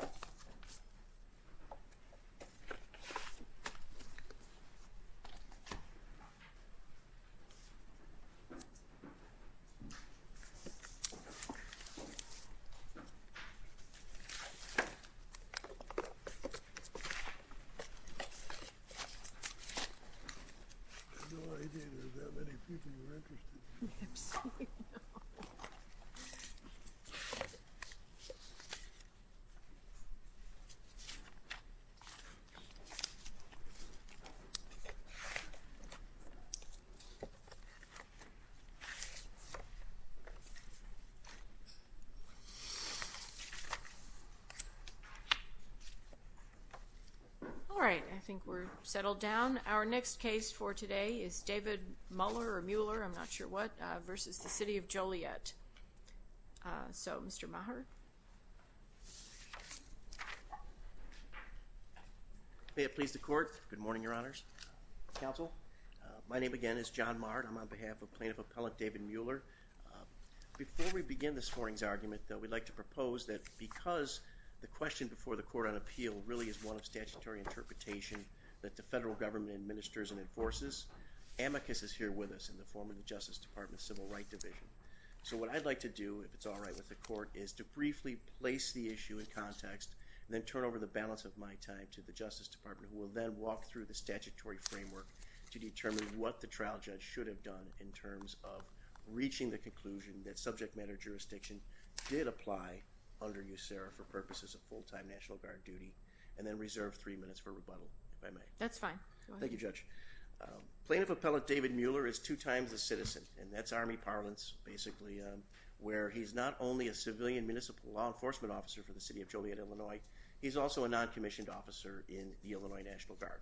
I had no idea there were that many people who were interested. All right, I think we're settled down. Our next case for today is David Muller or Mueller, I'm not sure what, versus the City of Joliet. So, Mr. Maher. May it please the Court. Good morning, Your Honors. Counsel. My name, again, is John Maher. I'm on behalf of Plaintiff Appellant David Mueller. Before we begin this morning's argument, though, we'd like to propose that because the question before the Court on Appeal really is one of statutory interpretation that the federal government administers and enforces, amicus is here with us in the form of the Justice Department's Civil Rights Division. So what I'd like to do, if it's all right with the Court, is to briefly place the issue in context and then turn over the balance of my time to the Justice Department who will then walk through the statutory framework to determine what the trial judge should have done in terms of reaching the conclusion that subject matter jurisdiction did apply under Amicus Serra for purposes of full-time National Guard duty and then reserve three minutes for rebuttal, if I may. That's fine. Thank you, Judge. Plaintiff Appellant David Mueller is two times a citizen, and that's Army parlance, basically, where he's not only a civilian municipal law enforcement officer for the City of Joliet, Illinois, he's also a non-commissioned officer in the Illinois National Guard.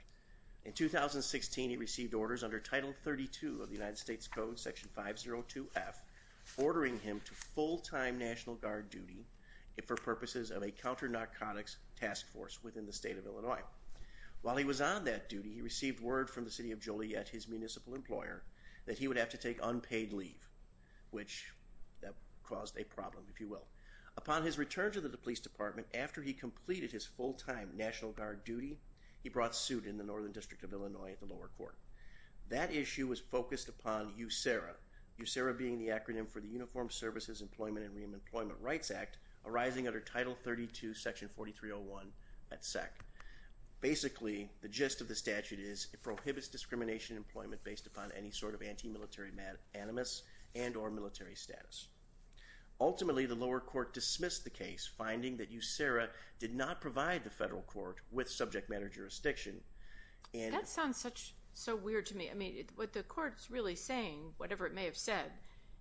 In 2016, he received orders under Title 32 of the United States Code, Section 502F, ordering him to full-time National Guard duty for purposes of a counter-narcotics task force within the State of Illinois. While he was on that duty, he received word from the City of Joliet, his municipal employer, that he would have to take unpaid leave, which caused a problem, if you will. Upon his return to the Police Department, after he completed his full-time National Guard duty, he brought suit in the Northern District of Illinois at the lower court. That issue was focused upon USERRA, USERRA being the acronym for the Uniformed Services Employment and Reemployment Rights Act, arising under Title 32, Section 4301, at SEC. Basically, the gist of the statute is, it prohibits discrimination in employment based upon any sort of anti-military animus and or military status. Ultimately, the lower court dismissed the case, finding that USERRA did not provide the federal court with subject matter jurisdiction, and- So weird to me, I mean, what the court's really saying, whatever it may have said,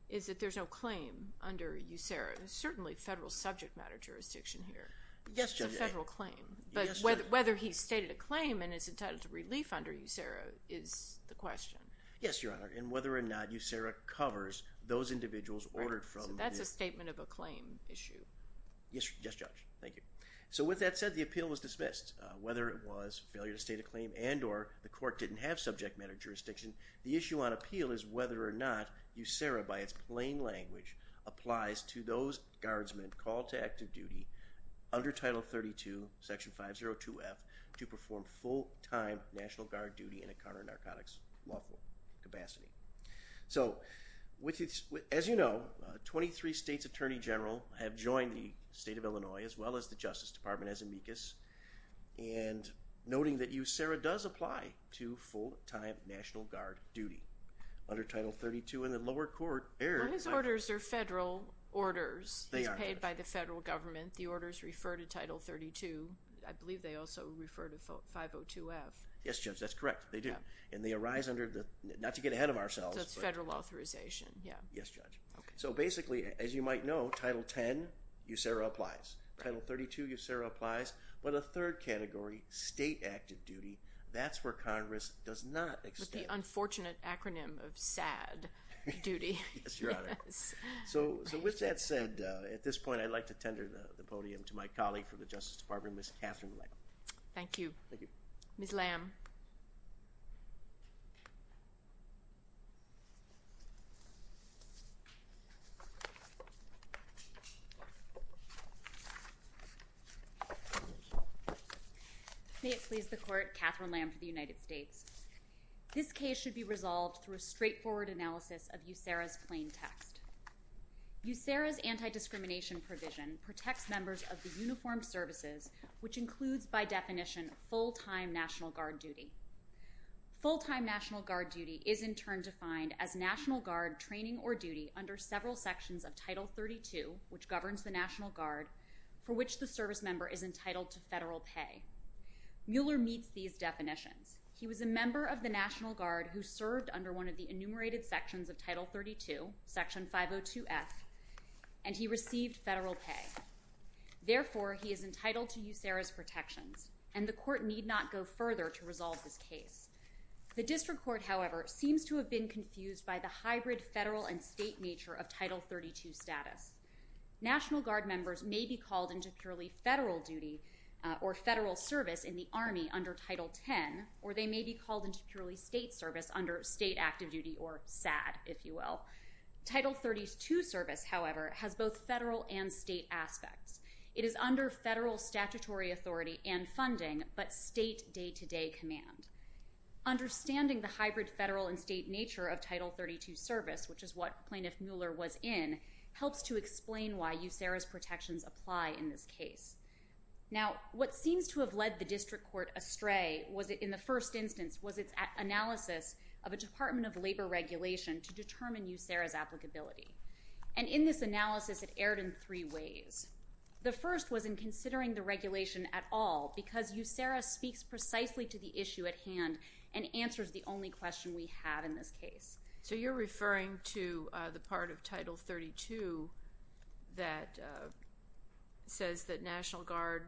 is that there's no claim under USERRA, there's certainly federal subject matter jurisdiction here. Yes, Judge. It's a federal claim. Yes, Judge. But whether he stated a claim and is entitled to relief under USERRA is the question. Yes, Your Honor. And whether or not USERRA covers those individuals ordered from- So that's a statement of a claim issue. Yes, Judge. Thank you. So, with that said, the appeal was dismissed. Whether it was a failure to state a claim and or the court didn't have subject matter jurisdiction, the issue on appeal is whether or not USERRA, by its plain language, applies to those guardsmen called to active duty under Title 32, Section 502F, to perform full-time National Guard duty in a counter-narcotics lawful capacity. So, as you know, 23 states' Attorney General have joined the state of Illinois, as well as the Justice Department, as amicus, and noting that USERRA does apply to full-time National Guard duty under Title 32, and the lower court- Well, his orders are federal orders. They are, yes. He's paid by the federal government. The orders refer to Title 32. I believe they also refer to 502F. Yes, Judge. That's correct. They do. And they arise under the- not to get ahead of ourselves- So, it's federal authorization. Yeah. Yes, Judge. Okay. So, basically, as you might know, Title 10, USERRA applies. Right. Title 32, USERRA applies. But a third category, state active duty, that's where Congress does not extend- With the unfortunate acronym of SADD, duty. Yes, Your Honor. Yes. So, with that said, at this point, I'd like to tender the podium to my colleague from the Justice Department, Ms. Katherine Lamb. Thank you. Thank you. Ms. Lamb. May it please the Court, Katherine Lamb for the United States. This case should be resolved through a straightforward analysis of USERRA's plain text. USERRA's anti-discrimination provision protects members of the Uniformed Services, which includes, by definition, full-time National Guard duty. Full-time National Guard duty is, in turn, defined as National Guard training or duty under several sections of Title 32, which governs the National Guard, for which the service member is entitled to federal pay. Mueller meets these definitions. He was a member of the National Guard who served under one of the enumerated sections of Title 32, Section 502F, and he received federal pay. Therefore, he is entitled to USERRA's protections, and the Court need not go further to resolve this case. The District Court, however, seems to have been confused by the hybrid federal and state nature of Title 32 status. National Guard members may be called into purely federal duty or federal service in the Army under Title 10, or they may be called into purely state service under state active duty or SAD, if you will. Title 32 service, however, has both federal and state aspects. It is under federal statutory authority and funding, but state day-to-day command. Understanding the hybrid federal and state nature of Title 32 service, which is what Plaintiff Mueller was in, helps to explain why USERRA's protections apply in this case. Now, what seems to have led the District Court astray in the first instance was its analysis of a Department of Labor regulation to determine USERRA's applicability, and in this analysis it erred in three ways. The first was in considering the regulation at all because USERRA speaks precisely to the issue at hand and answers the only question we have in this case. So you're referring to the part of Title 32 that says that National Guard,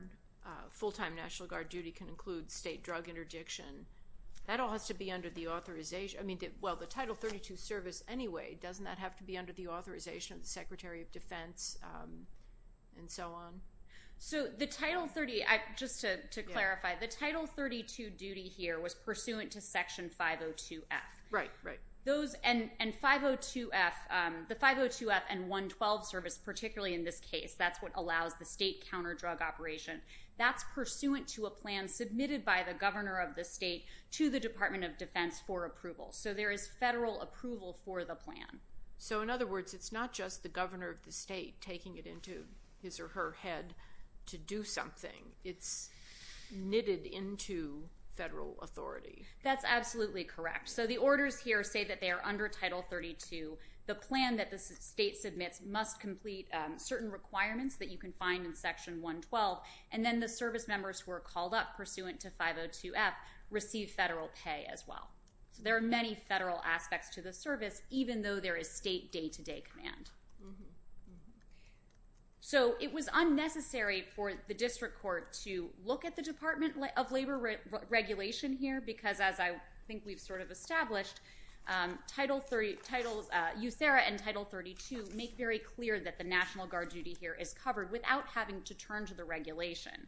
full-time National Guard duty can include state drug interdiction. That all has to be under the authorization, I mean, well, the Title 32 service anyway, doesn't that have to be under the authorization of the Secretary of Defense and so on? So the Title 30, just to clarify, the Title 32 duty here was pursuant to Section 502F. Right, right. And 502F, the 502F and 112 service, particularly in this case, that's what allows the state counter-drug operation. That's pursuant to a plan submitted by the governor of the state to the Department of Defense for approval. So there is federal approval for the plan. So in other words, it's not just the governor of the state taking it into his or her head to do something. It's knitted into federal authority. That's absolutely correct. So the orders here say that they are under Title 32. The plan that the state submits must complete certain requirements that you can find in And then the service members who are called up pursuant to 502F receive federal pay as well. So there are many federal aspects to the service, even though there is state day-to-day command. So it was unnecessary for the district court to look at the Department of Labor regulation here because, as I think we've sort of established, Title 30, Title, USERRA and Title 32 make very clear that the National Guard duty here is covered without having to turn to the regulation.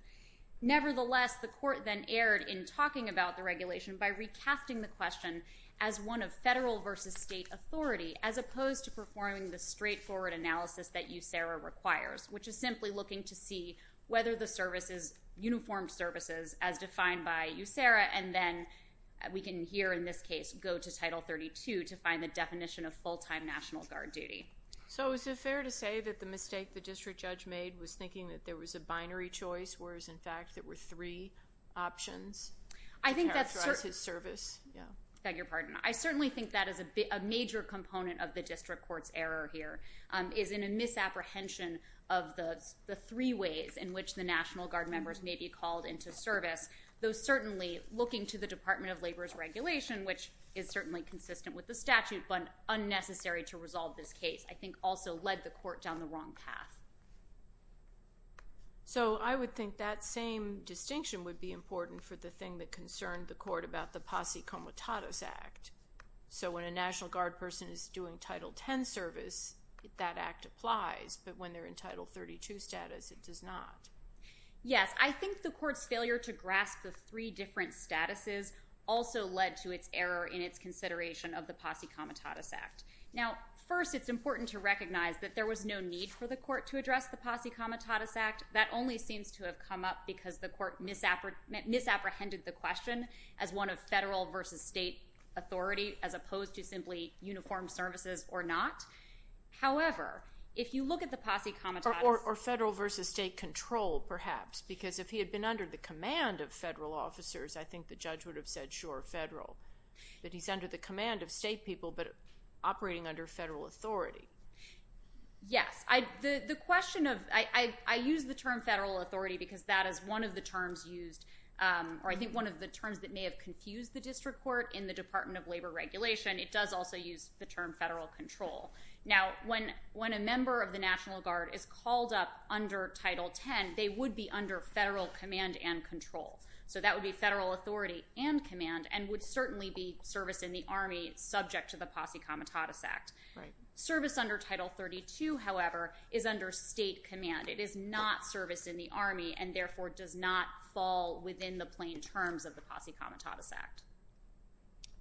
Nevertheless, the court then erred in talking about the regulation by recasting the question as one of federal versus state authority as opposed to performing the straightforward analysis that USERRA requires, which is simply looking to see whether the services, uniformed services as defined by USERRA and then we can hear in this case go to Title 32 to find the definition of full-time National Guard duty. So is it fair to say that the mistake the district judge made was thinking that there was a binary choice, whereas in fact there were three options to characterize his service? I beg your pardon. I certainly think that is a major component of the district court's error here, is in a misapprehension of the three ways in which the National Guard members may be called into service, though certainly looking to the Department of Labor's regulation, which is certainly consistent with the statute, but unnecessary to resolve this case, I think also led the court down the wrong path. So I would think that same distinction would be important for the thing that concerned the court about the Posse Comitatus Act. So when a National Guard person is doing Title 10 service, that act applies, but when they're in Title 32 status, it does not. Yes, I think the court's failure to grasp the three different statuses also led to its error in its consideration of the Posse Comitatus Act. Now, first, it's important to recognize that there was no need for the court to address the Posse Comitatus Act. That only seems to have come up because the court misapprehended the question as one of federal versus state authority, as opposed to simply uniformed services or not. However, if you look at the Posse Comitatus— Or federal versus state control, perhaps, because if he had been under the command of federal officers, I think the judge would have said, sure, federal, but he's under the command of state people, but operating under federal authority. Yes. The question of— I use the term federal authority because that is one of the terms used, or I think one of the terms that may have confused the district court in the Department of Labor Regulation. It does also use the term federal control. Now, when a member of the National Guard is called up under Title 10, they would be under federal command and control. So that would be federal authority and command, and would certainly be service in the Army subject to the Posse Comitatus Act. Service under Title 32, however, is under state command. It is not service in the Army, and therefore does not fall within the plain terms of the Posse Comitatus Act.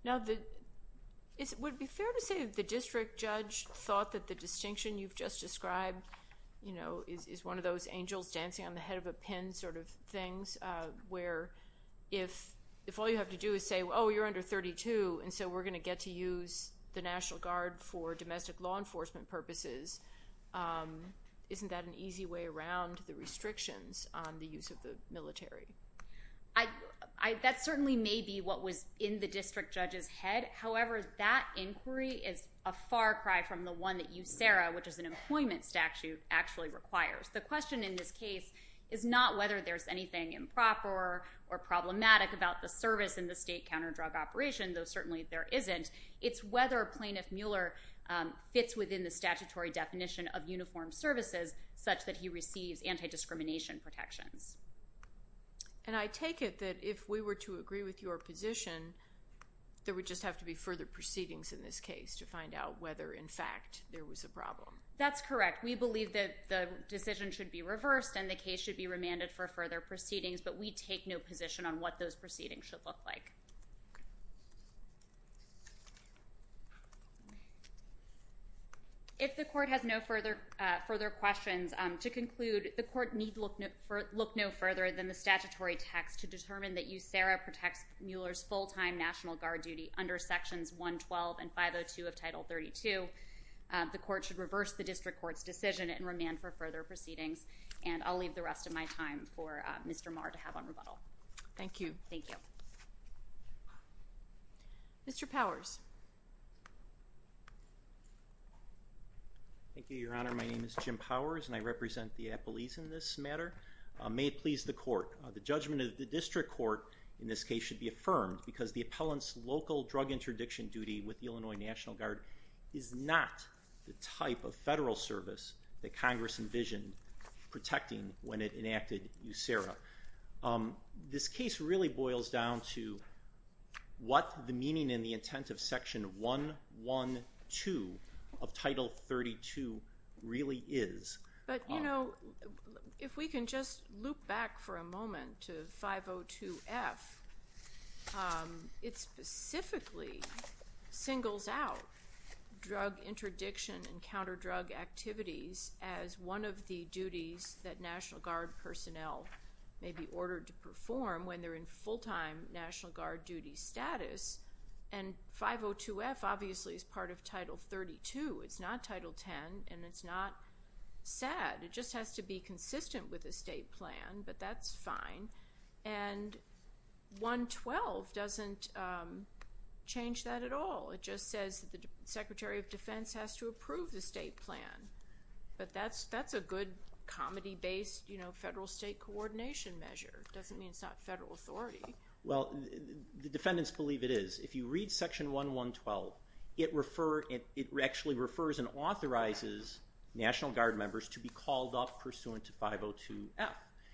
Now, would it be fair to say the district judge thought that the distinction you've just described, you know, is one of those angels dancing on the head of a pin sort of things, where if all you have to do is say, oh, you're under 32, and so we're going to get to use the National Guard for domestic law enforcement purposes, isn't that an easy way around the restrictions on the use of the military? That certainly may be what was in the district judge's head. However, that inquiry is a far cry from the one that USERRA, which is an employment statute, actually requires. The question in this case is not whether there's anything improper or problematic about the service in the state counter drug operation, though certainly there isn't. It's whether Plaintiff Mueller fits within the statutory definition of uniform services such that he receives anti-discrimination protections. And I take it that if we were to agree with your position, there would just have to be further proceedings in this case to find out whether, in fact, there was a problem. That's correct. We believe that the decision should be reversed and the case should be remanded for further proceedings, but we take no position on what those proceedings should look like. If the court has no further questions, to conclude, the court need look no further than the statutory text to determine that USERRA protects Mueller's full-time National Guard duty under Sections 112 and 502 of Title 32. The court should reverse the district court's decision and remand for further proceedings, and I'll leave the rest of my time for Mr. Maher to have on rebuttal. Thank you. Mr. Powers. Thank you, Your Honor. My name is Jim Powers, and I represent the Appellees in this matter. May it please the court, the judgment of the district court in this case should be affirmed because the appellant's local drug interdiction duty with the Illinois National Guard is not the type of federal service that Congress envisioned protecting when it enacted USERRA. This case really boils down to what the meaning and the intent of Section 112 of Title 32 really is. But, you know, if we can just loop back for a moment to 502F, it specifically singles out drug interdiction and counter-drug activities as one of the duties that National Guard personnel may be ordered to perform when they're in full-time National Guard duty status. And 502F, obviously, is part of Title 32. It's not Title 10, and it's not SAD. It just has to be consistent with the state plan, but that's fine. And 112 doesn't change that at all. It just says that the Secretary of Defense has to approve the state plan, but that's a good comedy-based, you know, federal-state coordination measure. It doesn't mean it's not federal authority. Well, the defendants believe it is. If you read Section 112, it actually refers and authorizes National Guard members to be called up pursuant to 502F.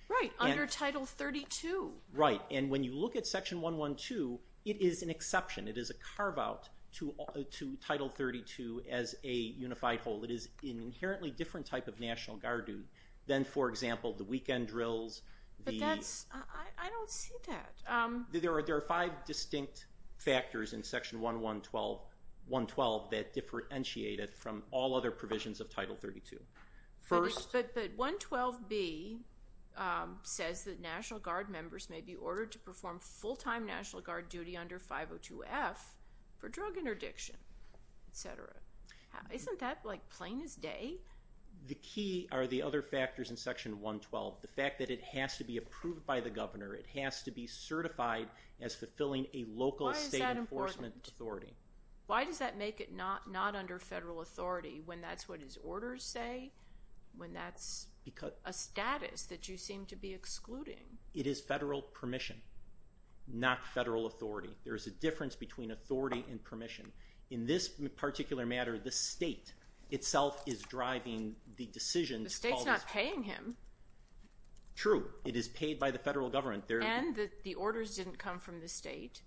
Right, under Title 32. Right, and when you look at Section 112, it is an exception. It is a carve-out to Title 32 as a unified whole. It is an inherently different type of National Guard duty than, for example, the weekend drills, the... But that's... I don't see that. There are five distinct factors in Section 112 that differentiate it from all other provisions of Title 32. First... But 112B says that National Guard members may be ordered to perform full-time National Guard duty under 502F for drug interdiction, et cetera. Isn't that, like, plain as day? The key are the other factors in Section 112. The fact that it has to be approved by the governor, it has to be certified as fulfilling a local state enforcement authority. Why does that make it not under federal authority when that's what his orders say, when that's a status that you seem to be excluding? It is federal permission, not federal authority. There is a difference between authority and permission. In this particular matter, the state itself is driving the decisions... The state's not paying him. True. It is paid by the federal government. And the orders didn't come from the state.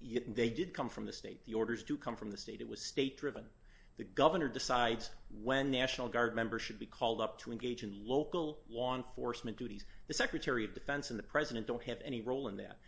They did come from the state. The orders do come from the state. It was state-driven. The governor decides when National Guard members should be called up to engage in local law enforcement duties. The Secretary of Defense and the President don't have any role in that.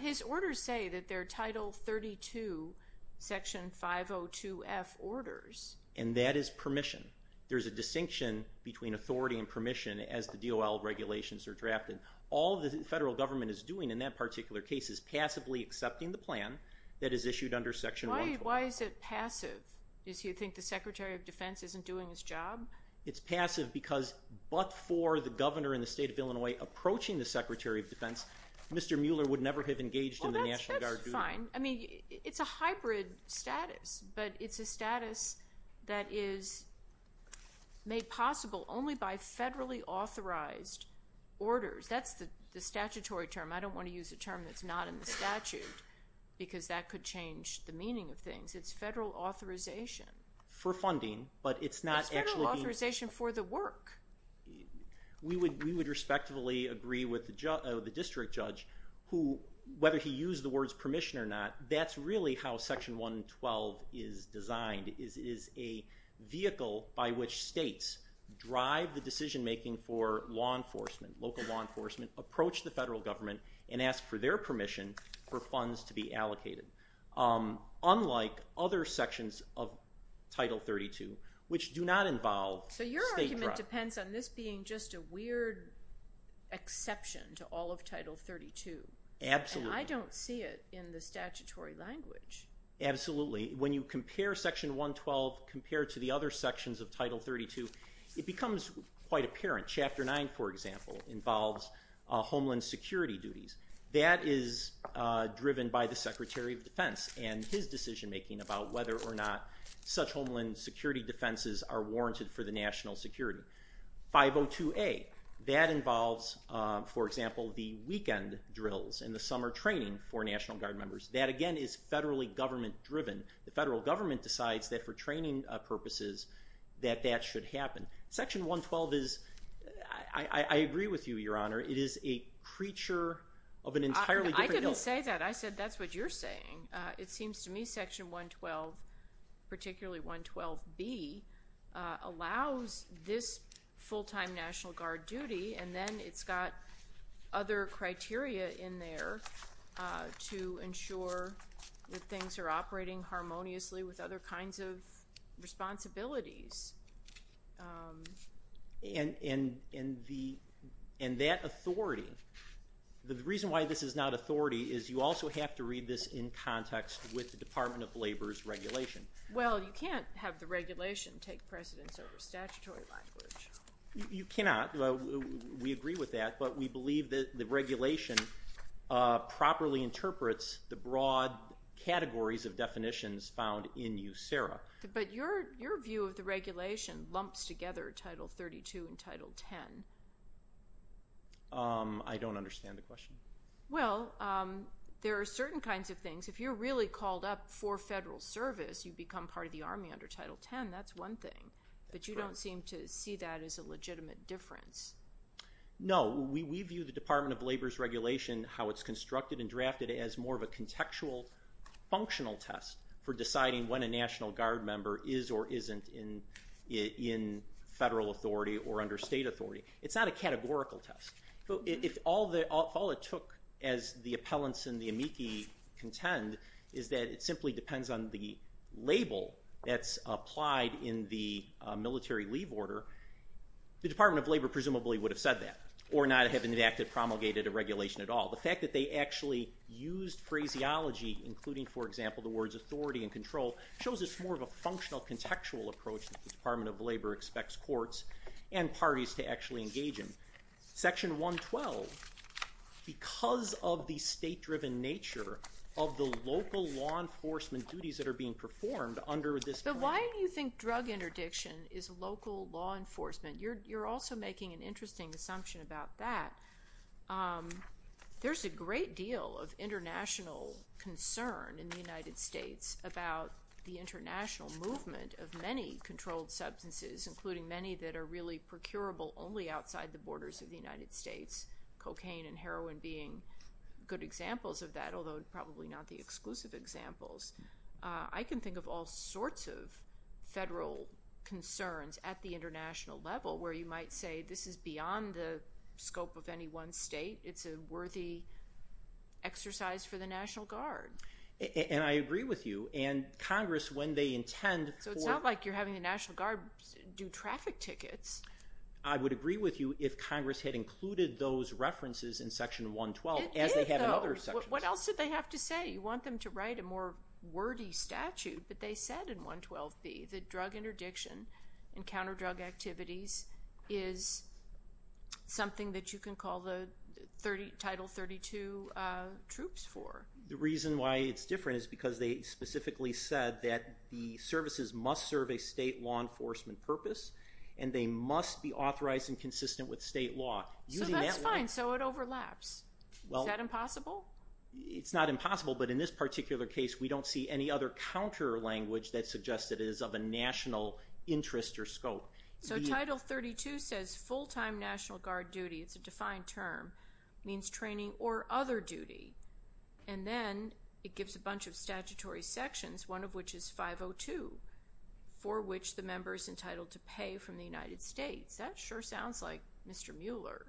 His orders say that they're Title 32, Section 502F orders. And that is permission. There's a distinction between authority and permission as the DOL regulations are drafted. All the federal government is doing in that particular case is passively accepting the plan that is issued under Section 112. Why is it passive? Do you think the Secretary of Defense isn't doing his job? It's passive because but for the governor in the state of Illinois approaching the Secretary of Defense, Mr. Mueller would never have engaged in the National Guard duty. Well, that's fine. I mean, it's a hybrid status. But it's a status that is made possible only by federally authorized orders. That's the statutory term. I don't want to use a term that's not in the statute because that could change the meaning of things. It's federal authorization. For funding, but it's not actually being... It's federal authorization for the work. We would respectfully agree with the district judge who, whether he used the words permission or not, that's really how Section 112 is designed, is a vehicle by which states drive the decision making for law enforcement, local law enforcement, approach the federal government, and ask for their permission for funds to be allocated, unlike other sections of Title 32, which do not involve state... So your argument depends on this being just a weird exception to all of Title 32. Absolutely. And I don't see it in the statutory language. Absolutely. When you compare Section 112 compared to the other sections of Title 32, it becomes quite apparent. Chapter 9, for example, involves homeland security duties. That is driven by the Secretary of Defense and his decision making about whether or not such homeland security defenses are warranted for the national security. 502A, that involves, for example, the weekend drills and the summer training for National Guard members. That, again, is federally government driven. The federal government decides that for training purposes that that should happen. Section 112 is, I agree with you, Your Honor, it is a creature of an entirely different... I didn't say that. I said that's what you're saying. It seems to me Section 112, particularly 112B, allows this full-time National Guard duty and then it's got other criteria in there to ensure that things are operating harmoniously with other kinds of responsibilities. And that authority... The reason why this is not authority is you also have to read this in context with the Department of Labor's regulation. Well, you can't have the regulation take precedence over statutory language. You cannot. We agree with that, but we believe that the regulation properly interprets the broad categories of definitions found in USERRA. But your view of the regulation lumps together Title 32 and Title 10. I don't understand the question. Well, there are certain kinds of things. If you're really called up for federal service, you become part of the Army under Title 10. That's one thing. But you don't seem to see that as a legitimate difference. No. We view the Department of Labor's regulation, how it's constructed and drafted, as more of a contextual functional test for deciding when a National Guard member is or isn't in federal authority or under state authority. It's not a categorical test. If all it took, as the appellants in the amici contend, is that it simply depends on the label that's applied in the military leave order, the Department of Labor presumably would have said that or not have enacted, promulgated a regulation at all. The fact that they actually used phraseology, including, for example, the words authority and control, shows it's more of a functional, contextual approach that the Department of Labor expects courts and parties to actually engage in. Section 112, because of the state-driven nature of the local law enforcement duties that are being performed under this- But why do you think drug interdiction is local law enforcement? You're also making an interesting assumption about that. There's a great deal of international concern in the United States about the international movement of many controlled substances, including many that are really procurable only outside the borders of the United States, cocaine and heroin being good examples of that, although probably not the exclusive examples. I can think of all sorts of federal concerns at the international level where you might say this is beyond the scope of any one state. It's a worthy exercise for the National Guard. And I agree with you. And Congress, when they intend for- So it's not like you're having the National Guard do traffic tickets. I would agree with you if Congress had included those references in Section 112 as they have in other sections. It did, though. What else did they have to say? You want them to write a more wordy statute, but they said in 112B that drug interdiction and counter drug activities is something that you can call the Title 32 troops for. The reason why it's different is because they specifically said that the services must serve a state law enforcement purpose, and they must be authorized and consistent with state law. Using that- So that's fine. So it overlaps. Is that impossible? It's not impossible, but in this particular case, we don't see any other counter language that suggests that it is of a national interest or scope. So Title 32 says full-time National Guard duty, it's a defined term, means training or other duty. And then it gives a bunch of statutory sections, one of which is 502, for which the member is entitled to pay from the United States. That sure sounds like Mr. Mueller.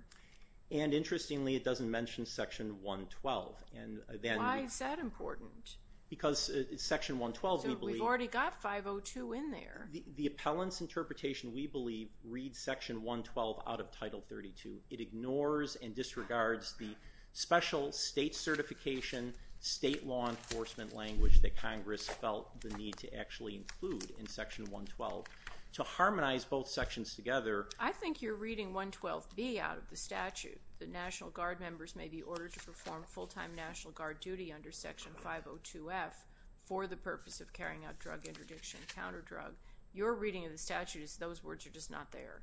And interestingly, it doesn't mention Section 112. And then- Why is that important? Because Section 112, we believe- So we've already got 502 in there. The appellant's interpretation, we believe, reads Section 112 out of Title 32. It ignores and disregards the special state certification, state law enforcement language that Congress felt the need to actually include in Section 112. To harmonize both sections together- I think you're reading 112B out of the statute. The National Guard members may be ordered to perform full-time National Guard duty under Section 502F for the purpose of carrying out drug interdiction and counter-drug. Your reading of the statute is those words are just not there.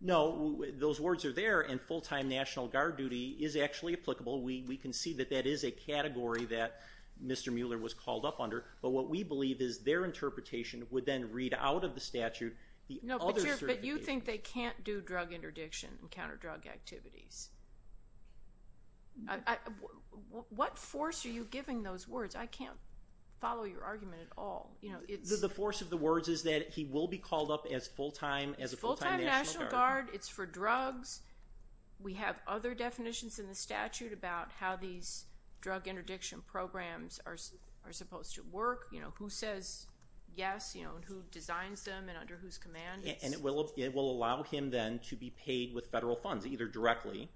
No, those words are there, and full-time National Guard duty is actually applicable. We can see that that is a category that Mr. Mueller was called up under, but what we believe is their interpretation would then read out of the statute the other certification- No, but you think they can't do drug interdiction and counter-drug activities. What force are you giving those words? I can't follow your argument at all. The force of the words is that he will be called up as a full-time National Guard. It's for drugs. We have other definitions in the statute about how these drug interdiction programs are supposed to work, who says yes, who designs them, and under whose command. It will allow him then to be paid with federal funds, either directly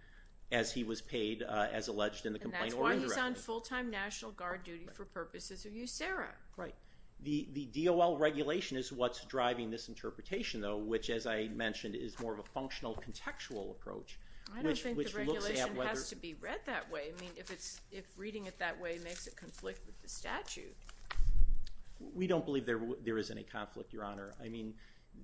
as he was paid as alleged in the complaint or indirectly. And that's why he's on full-time National Guard duty for purposes of USERRA. The DOL regulation is what's driving this interpretation, though, which as I mentioned is more of a functional contextual approach- I don't think the regulation has to be read that way. I mean, if reading it that way makes it conflict with the statute. We don't believe there is any conflict, Your Honor. I mean,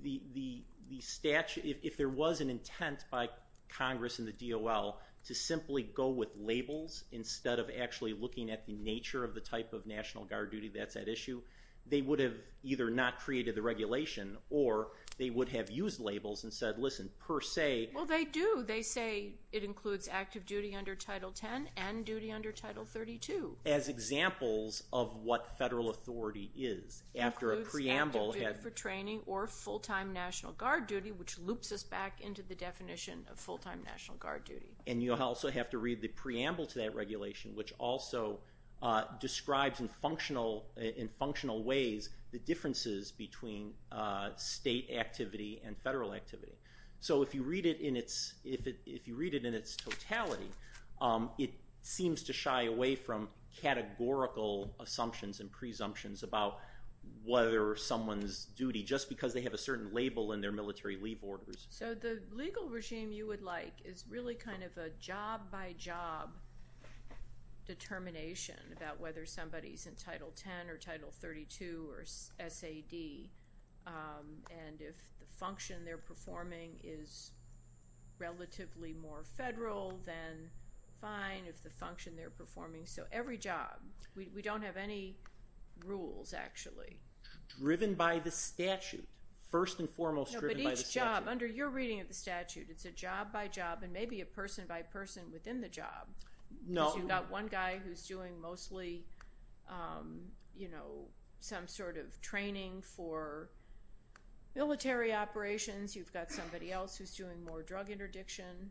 if there was an intent by Congress and the DOL to simply go with labels instead of actually looking at the nature of the type of National Guard duty that's at issue, they would have either not created the regulation or they would have used labels and said, listen, per se- Well, they do. They say it includes active duty under Title 10 and duty under Title 32. As examples of what federal authority is, after a preamble- It includes active duty for training or full-time National Guard duty, which loops us back into the definition of full-time National Guard duty. And you also have to read the preamble to that regulation, which also describes in functional ways the differences between state activity and federal activity. So if you read it in its totality, it seems to shy away from categorical assumptions and presumptions about whether someone's duty- just because they have a certain label in their military leave orders. So the legal regime you would like is really kind of a job-by-job determination about whether somebody's in Title 10 or Title 32 or SAD, and if the function they're performing is relatively more federal, then fine if the function they're performing- so every job. We don't have any rules, actually. Driven by the statute. First and foremost, driven by the statute. No, but each job. Under your reading of the statute, it's a job-by-job and maybe a person-by-person within the job. No. So you've got one guy who's doing mostly some sort of training for military operations. You've got somebody else who's doing more drug interdiction.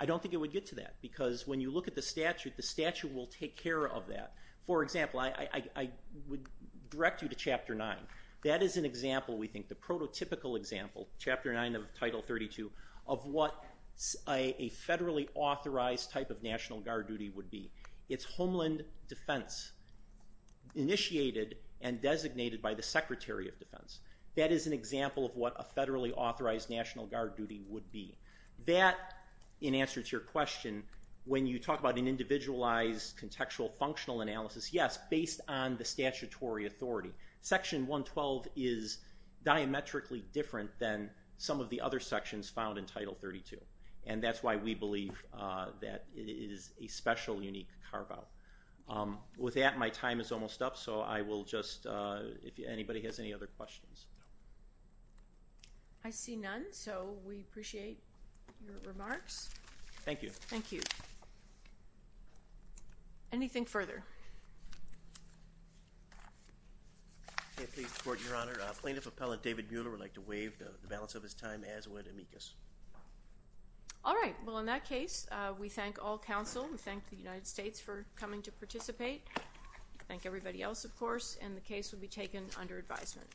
I don't think it would get to that, because when you look at the statute, the statute will take care of that. For example, I would direct you to Chapter 9. That is an example, we think, the prototypical example, Chapter 9 of Title 32, of what a national guard duty would be. It's homeland defense initiated and designated by the Secretary of Defense. That is an example of what a federally authorized national guard duty would be. That, in answer to your question, when you talk about an individualized contextual functional analysis, yes, based on the statutory authority. Section 112 is diametrically different than some of the other sections found in Title 32, and that's why we believe that it is a special, unique carve-out. With that, my time is almost up, so I will just, if anybody has any other questions. I see none, so we appreciate your remarks. Thank you. Thank you. Anything further? Your Honor, Plaintiff Appellant David Mueller would like to waive the balance of his time as would amicus. All right. Well, in that case, we thank all counsel. We thank the United States for coming to participate. Thank everybody else, of course, and the case will be taken under advisement.